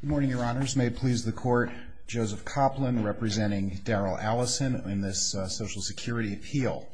Good morning, your honors. May it please the court, Joseph Copland representing Daryl Allison in this Social Security appeal.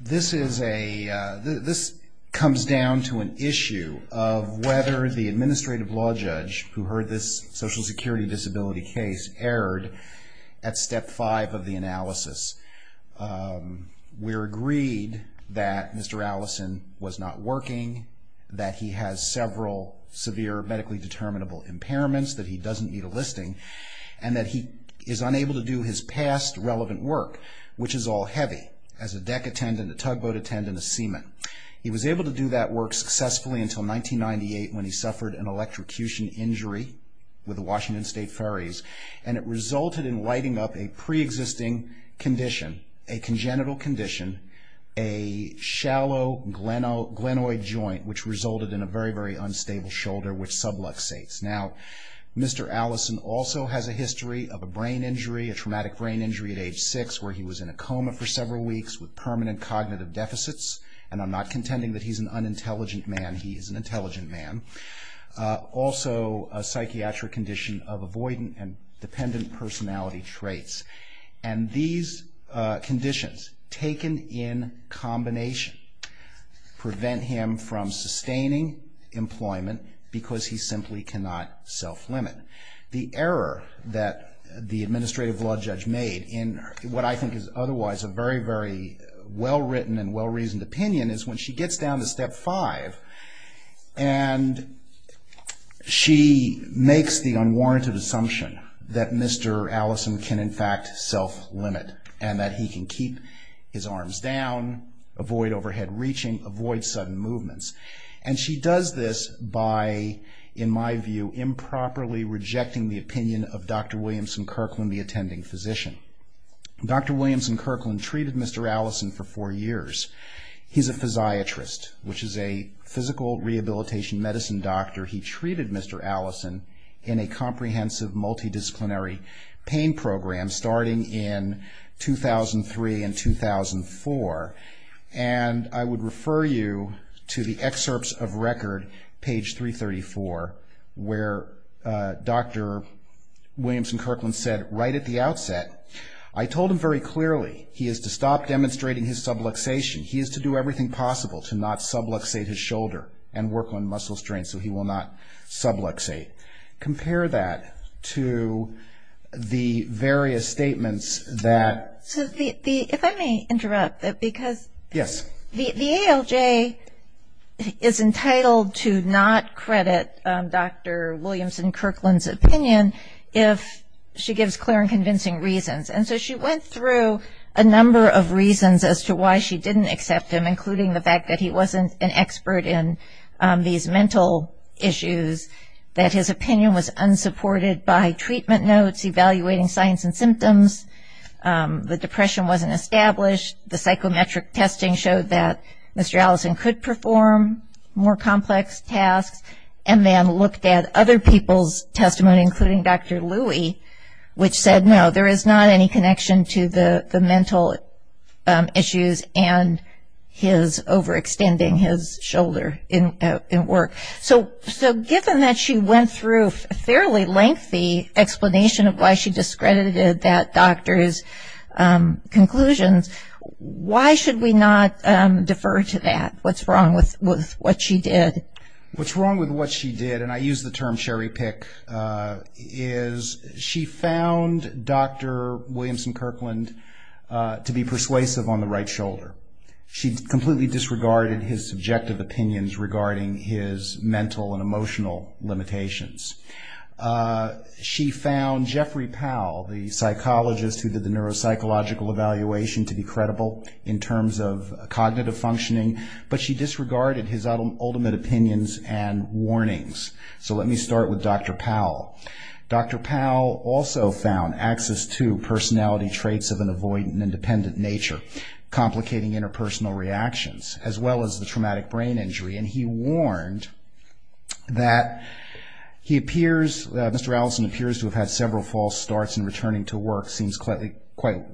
This comes down to an issue of whether the administrative law judge who heard this Social Security disability case erred at step 5 of the analysis. We're agreed that Mr. Allison was not working, that he has several severe medically determinable impairments, that he doesn't need a listing, and that he is unable to do his past relevant work, which is all heavy as a deck attendant, a tugboat attendant, a seaman. He was able to do that work successfully until 1998 when he suffered an electrocution injury with the Washington State Ferries and it resulted in lighting up a pre-existing condition, a congenital condition, a shallow glenoid joint, which resulted in a very, very unstable shoulder which subluxates. Now, Mr. Allison also has a history of a brain injury, a traumatic brain injury at age 6, where he was in a coma for several weeks with permanent cognitive deficits, and I'm not contending that he's an unintelligent man, he is an intelligent man. Also a psychiatric condition of avoidant and prevent him from sustaining employment because he simply cannot self-limit. The error that the administrative law judge made in what I think is otherwise a very, very well-written and well-reasoned opinion is when she gets down to step 5 and she makes the unwarranted assumption that Mr. Allison can in fact self-limit and that he can keep his arms down, avoid overhead reaching, avoid sudden movements. And she does this by, in my view, improperly rejecting the opinion of Dr. Williamson Kirkland, the attending physician. Dr. Williamson Kirkland treated Mr. Allison for four years. He's a physiatrist, which is a physical rehabilitation medicine doctor. He treated Mr. Allison in a setting in 2003 and 2004. And I would refer you to the excerpts of record, page 334, where Dr. Williamson Kirkland said right at the outset, I told him very clearly he is to stop demonstrating his subluxation. He is to do everything possible to not subluxate his shoulder and work on muscle strength so he will not subluxate. Compare that to the various statements that... So if I may interrupt, because the ALJ is entitled to not credit Dr. Williamson Kirkland's opinion if she gives clear and convincing reasons. And so she went through a number of reasons as to why she didn't accept him, including the fact that he wasn't an expert in these mental issues, that his opinion was unsupported by treatment notes, evaluating signs and symptoms, the depression wasn't established, the psychometric testing showed that Mr. Allison could perform more complex tasks, and then looked at other people's testimony, including Dr. Louie, which said, no, there is not any connection to the extending his shoulder and work. So given that she went through a fairly lengthy explanation of why she discredited that doctor's conclusions, why should we not defer to that? What's wrong with what she did? What's wrong with what she did, and I use the term cherry pick, is she found Dr. Williamson Kirkland to be persuasive on the right shoulder. She completely disregarded his subjective opinions regarding his mental and emotional limitations. She found Jeffrey Powell, the psychologist who did the neuropsychological evaluation, to be credible in terms of cognitive functioning, but she disregarded his ultimate opinions and warnings. So let me start with Dr. Powell. Dr. Powell also found access to personality traits of an as well as the traumatic brain injury, and he warned that he appears, Mr. Allison appears to have had several false starts in returning to work, seems likely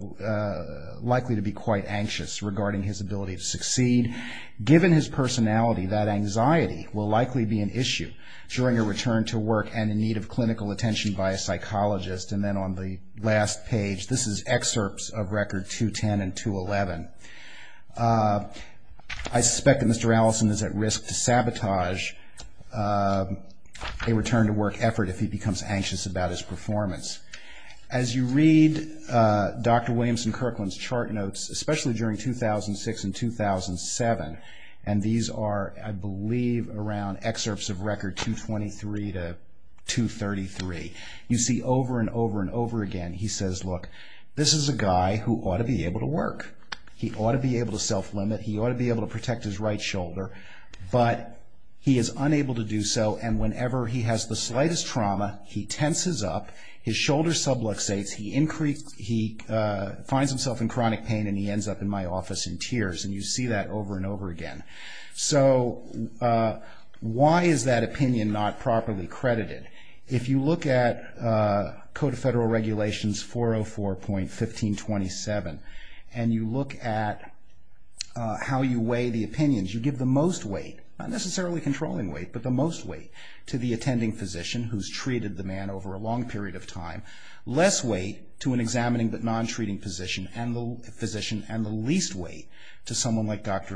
to be quite anxious regarding his ability to succeed. Given his personality, that anxiety will likely be an issue during her return to work and in need of clinical attention by a psychologist. And then on the last page, this is excerpts of record 210 and 211. I suspect Mr. Allison is at risk to sabotage a return to work effort if he becomes anxious about his performance. As you read Dr. Williamson Kirkland's chart notes, especially during 2006 and 2007, and these are, I believe, around excerpts of record 223 to 233, you see over and over again, this is a guy who ought to be able to work. He ought to be able to self-limit. He ought to be able to protect his right shoulder, but he is unable to do so, and whenever he has the slightest trauma, he tenses up, his shoulder subluxates, he finds himself in chronic pain, and he ends up in my office in tears, and you see that over and over again. So why is that opinion not properly credited? If you look at Code of Federal Regulations 404.1527, and you look at how you weigh the opinions, you give the most weight, not necessarily controlling weight, but the most weight to the attending physician who's treated the man over a long period of time, less weight to an examining but non-treating physician, and the least weight to someone like Dr.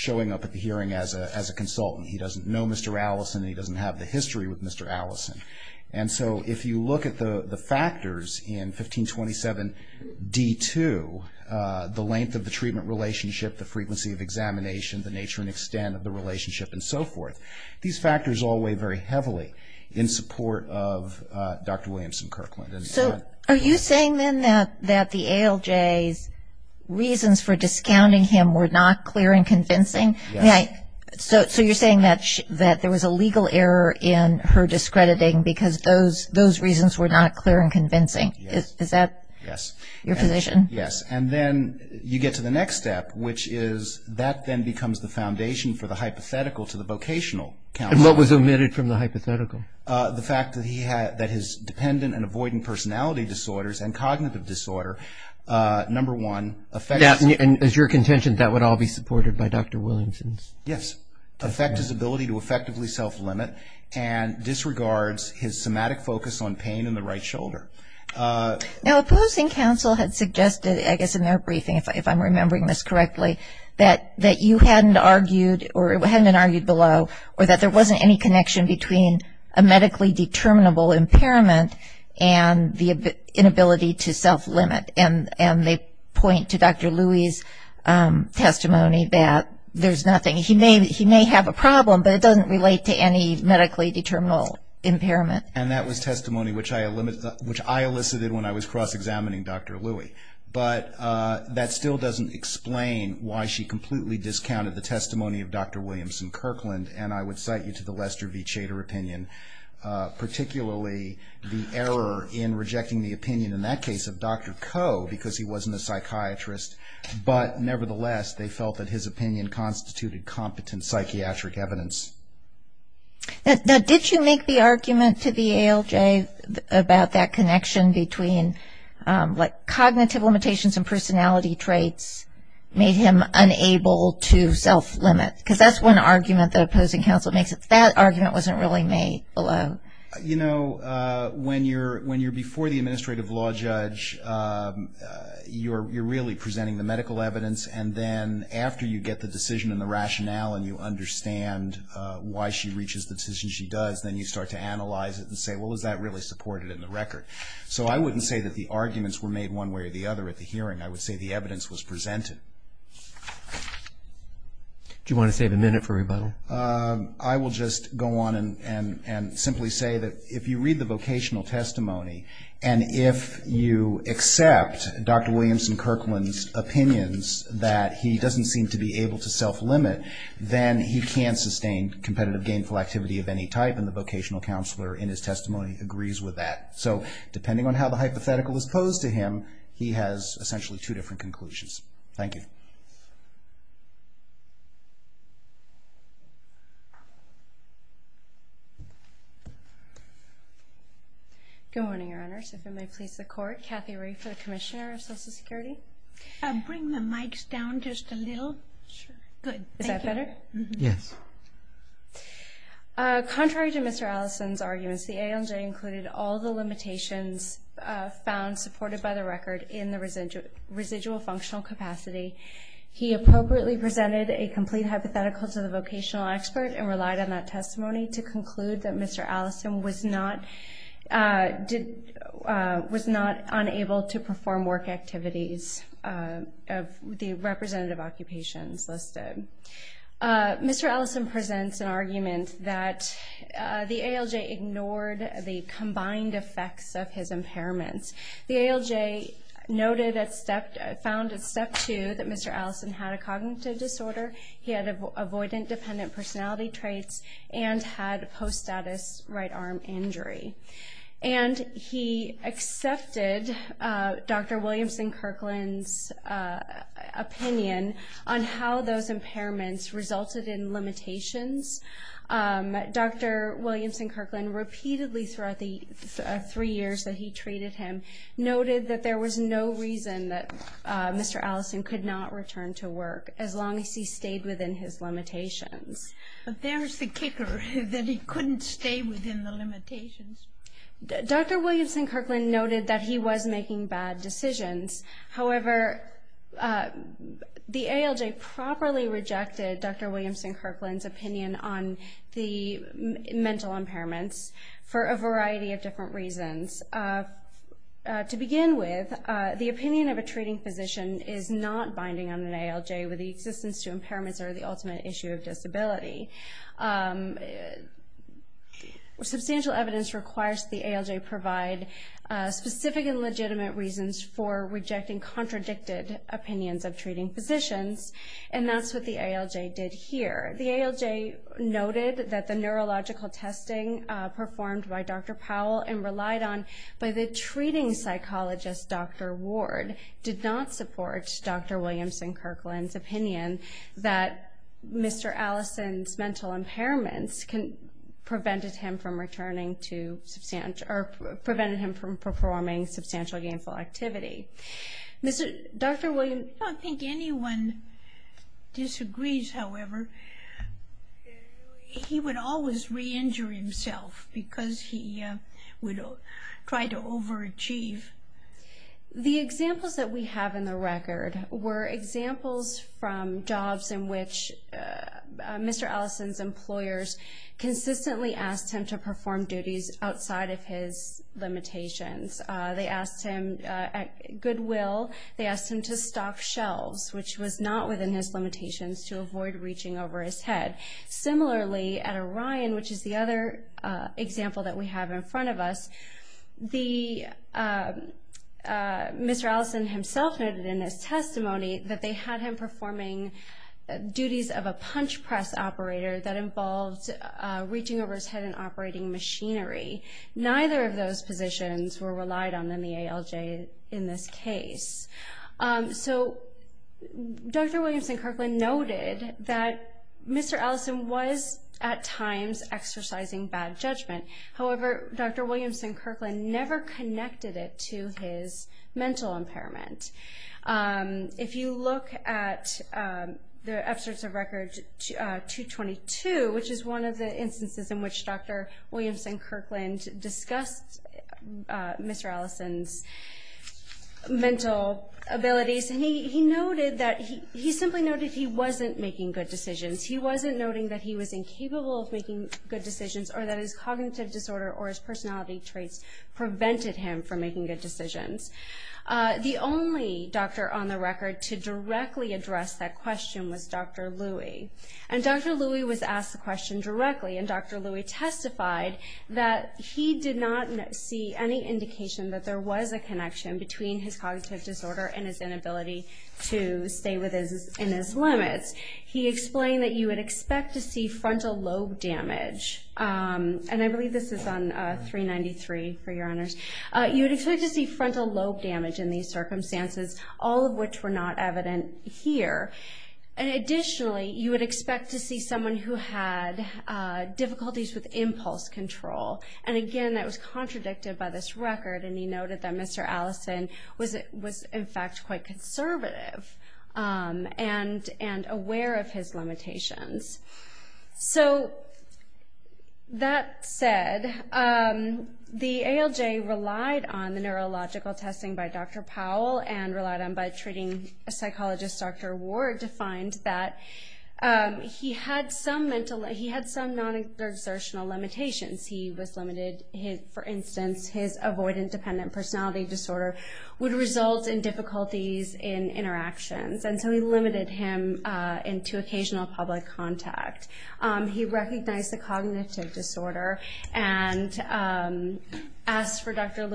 showing up at the hearing as a consultant. He doesn't know Mr. Allison, and he doesn't have the history with Mr. Allison, and so if you look at the factors in 1527.d.2, the length of the treatment relationship, the frequency of examination, the nature and extent of the relationship, and so forth, these factors all weigh very heavily in support of Dr. Williamson Kirkland. So are you saying then that the ALJ's reasons for discounting him were not clear and convincing? So you're saying that there was a legal error in her discrediting because those reasons were not clear and convincing? Yes. Is that your position? Yes, and then you get to the next step, which is that then becomes the foundation for the hypothetical to the vocational counsel. And what was omitted from the hypothetical? The fact that he had, that his dependent and avoidant personality disorders and cognitive disorder, number one, affect his... And as your contention, that would all be supported by Dr. Williamson? Yes. Affect his ability to effectively self-limit and disregards his somatic focus on pain in the right shoulder. Now opposing counsel had suggested, I guess in their briefing, if I'm remembering this correctly, that you hadn't argued, or hadn't argued below, or that there wasn't any connection between a medically determinable impairment and the inability to self-limit. And they point to Dr. Louie's testimony that there's nothing. He may have a problem, but it doesn't relate to any medically determinable impairment. And that was testimony which I elicited when I was cross-examining Dr. Louie. But that still doesn't explain why she completely discounted the testimony of Dr. Williamson Kirkland, and I would cite you to the Lester v. Chater opinion, particularly the error in rejecting the opinion, in that case, of Dr. Ko, because he wasn't a psychiatrist. But nevertheless, they felt that his opinion constituted competent psychiatric evidence. Now did you make the argument to the ALJ about that connection between, like, cognitive limitations and personality traits made him unable to self-limit? That argument wasn't really made below. You know, when you're before the administrative law judge, you're really presenting the medical evidence, and then after you get the decision and the rationale, and you understand why she reaches the decision she does, then you start to analyze it and say, well, is that really supported in the record? So I wouldn't say that the arguments were made one way or the other at the hearing. I would say the evidence was presented. Do you want to save a minute for rebuttal? I will just go on and simply say that if you read the vocational testimony, and if you accept Dr. Williamson Kirkland's opinions that he doesn't seem to be able to self-limit, then he can't sustain competitive gainful activity of any type, and the vocational counselor in his testimony agrees with that. So depending on how the hypothetical is posed to him, he has essentially two different conclusions. Thank you. Good morning, Your Honors. If it may please the Court, Kathy Rae for the Commissioner of Social Security. Bring the mics down just a little. Sure. Good. Thank you. Is that better? Yes. Contrary to Mr. Allison's arguments, the ALJ included all the limitations found supported by the record in the residual functional capacity. He appropriately presented a complete hypothetical to the vocational expert and relied on that testimony to conclude that Mr. Allison was not unable to perform work activities of the representative occupations listed. Mr. Allison presents an argument that the ALJ ignored the combined effects of his impairments. The ALJ noted at step found at step two that Mr. Allison had a cognitive disorder, he had avoidant dependent personality traits, and had post-status right arm injury. And he accepted Dr. Williamson Kirkland's opinion on how those impairments resulted in limitations. Dr. Williamson Kirkland repeatedly throughout the three years that he treated him noted that there was no reason that Mr. Allison could not return to work as long as he stayed within his limitations. But there's the kicker, that he couldn't stay within the limitations. Dr. Williamson Kirkland noted that he was making bad decisions. However, the ALJ properly rejected Dr. Williamson Kirkland's opinion on the mental impairments for a variety of different reasons. To begin with, the opinion of a treating physician is not binding on an ALJ with the existence to impairments are the ultimate issue of disability. Substantial evidence requires the ALJ provide specific and legitimate reasons for rejecting contradicted opinions of treating physicians. And that's what the ALJ did here. The ALJ noted that the neurological testing performed by Dr. Powell and relied on by the treating psychologist Dr. Ward did not support Dr. Williamson Kirkland's opinion that Mr. Allison's mental impairments prevented him from returning to substantial, or prevented him from performing substantial gainful activity. Dr. Williamson... I don't think anyone disagrees, however. He would always re-injure himself because he would try to overachieve. The examples that we have in the record were examples from jobs in which Mr. Allison's employers consistently asked him to perform duties outside of his limitations. They asked him at goodwill, they asked him to stock shelves, which was not within his limitations to avoid reaching over his head. Similarly, at Orion, which is the other example that we have in front of us, Mr. Allison himself noted in his testimony that they had him performing duties of a punch press operator that involved reaching over his head and operating machinery. Neither of those positions were relied on in the ALJ in this case. So Dr. Williamson Kirkland noted that Mr. Allison was at times exercising bad judgment. However, Dr. Williamson Kirkland never connected it to his mental impairment. If you look at the excerpts of record 222, which is one of the Mr. Allison's mental abilities, he noted that he simply noted he wasn't making good decisions. He wasn't noting that he was incapable of making good decisions or that his cognitive disorder or his personality traits prevented him from making good decisions. The only doctor on the record to directly address that question was Dr. Louis was asked the question directly, and Dr. Louis testified that he did not see any indication that there was a connection between his cognitive disorder and his inability to stay within his limits. He explained that you would expect to see frontal lobe damage, and I believe this is on 393, for your honors. You would expect to see frontal lobe damage in these circumstances, all of which were not evident here. And additionally, you would expect to see someone who had difficulties with impulse control. And again, that was contradicted by this record, and he noted that Mr. Allison was in fact quite conservative and aware of his limitations. So that said, the ALJ relied on the neurological testing by Dr. Powell and relied on them by treating psychologist Dr. Ward to find that he had some non-exertional limitations. He was limited, for instance, his avoidant dependent personality disorder would result in difficulties in interactions, and so he limited him into occasional public contact. He recognized the cognitive disorder and asked for Dr.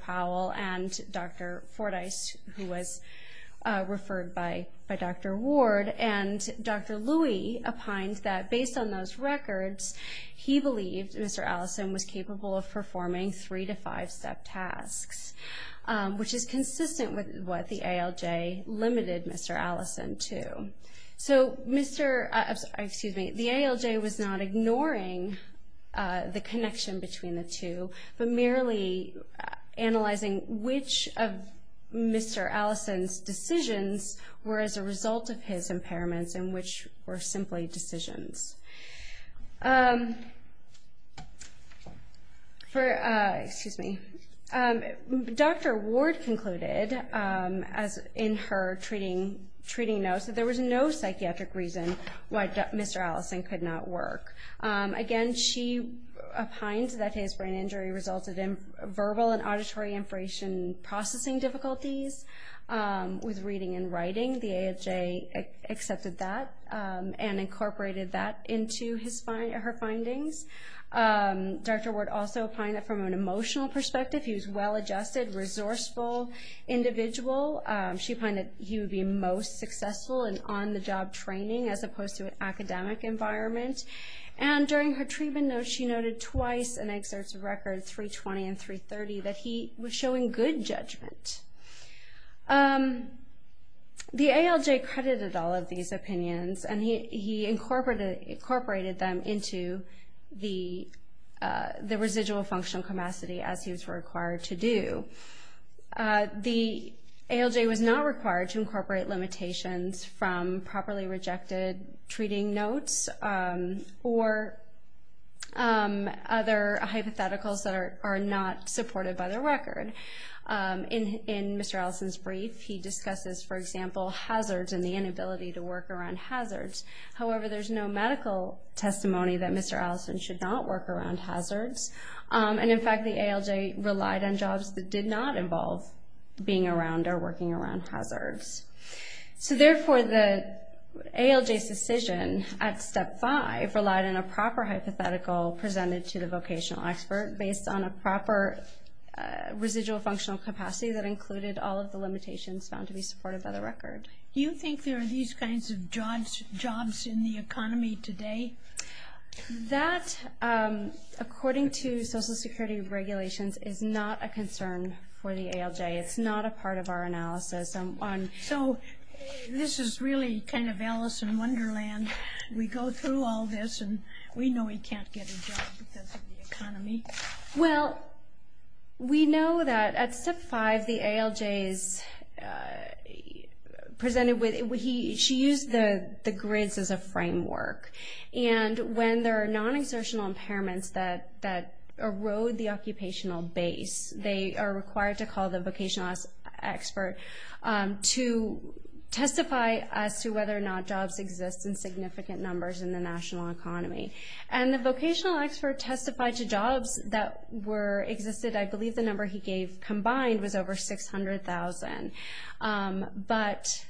Powell and Dr. Fordyce, who was referred by Dr. Ward, and Dr. Louie opined that based on those records, he believed Mr. Allison was capable of performing three- to five-step tasks, which is consistent with what the ALJ limited Mr. Allison to. So the ALJ was not ignoring the connection between the two, but merely analyzing which of Mr. Allison's decisions were as a result of his impairments and which were simply decisions. Dr. Ward concluded in her treating notes that there was no psychiatric reason why Mr. Allison could not work. Again, she opined that his brain injury resulted in verbal and auditory information processing difficulties with reading and writing. The ALJ accepted that and incorporated that into her findings. Dr. Ward also opined that from an emotional perspective, he was a well-adjusted, resourceful individual. She opined that he would be most successful in on-the-job training as opposed to an academic environment. And during her treatment notes, she noted twice in excerpts of records 320 and 330 that he was showing good judgment. The ALJ credited all of these opinions, and he incorporated them into the residual functional capacity as he was required to do. The ALJ was not required to incorporate hypotheticals that are not supported by the record. In Mr. Allison's brief, he discusses, for example, hazards and the inability to work around hazards. However, there's no medical testimony that Mr. Allison should not work around hazards. And in fact, the ALJ relied on jobs that did not involve being around or working around hazards. So therefore, the ALJ's decision at Step 5 relied on a proper hypothetical presented to the vocational expert based on a proper residual functional capacity that included all of the limitations found to be supported by the record. Do you think there are these kinds of jobs in the economy today? That, according to Social Security regulations, is not a concern for the ALJ. It's not a part of our analysis. So this is really kind of Alice in Wonderland. We go through all this, and we know he can't get a job because of the economy. Well, we know that at Step 5, the ALJ is presented with, she used the grids as a framework. And when there are non-exertional impairments that erode the to testify as to whether or not jobs exist in significant numbers in the national economy. And the vocational expert testified to jobs that existed, I believe the number he gave combined was over 600,000. But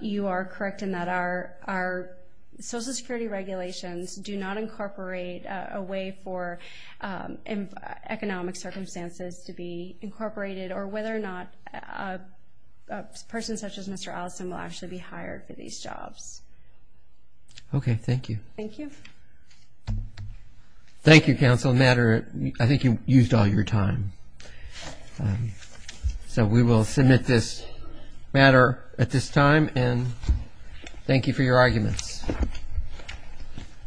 you are correct in that our Social Security regulations do not incorporate a way for economic circumstances to be incorporated or whether or not a person such as Mr. Allison will actually be hired for these jobs. Okay. Thank you. Thank you. Thank you, Counsel. I think you used all your time. So we will submit this matter at this time, and thank you for your arguments.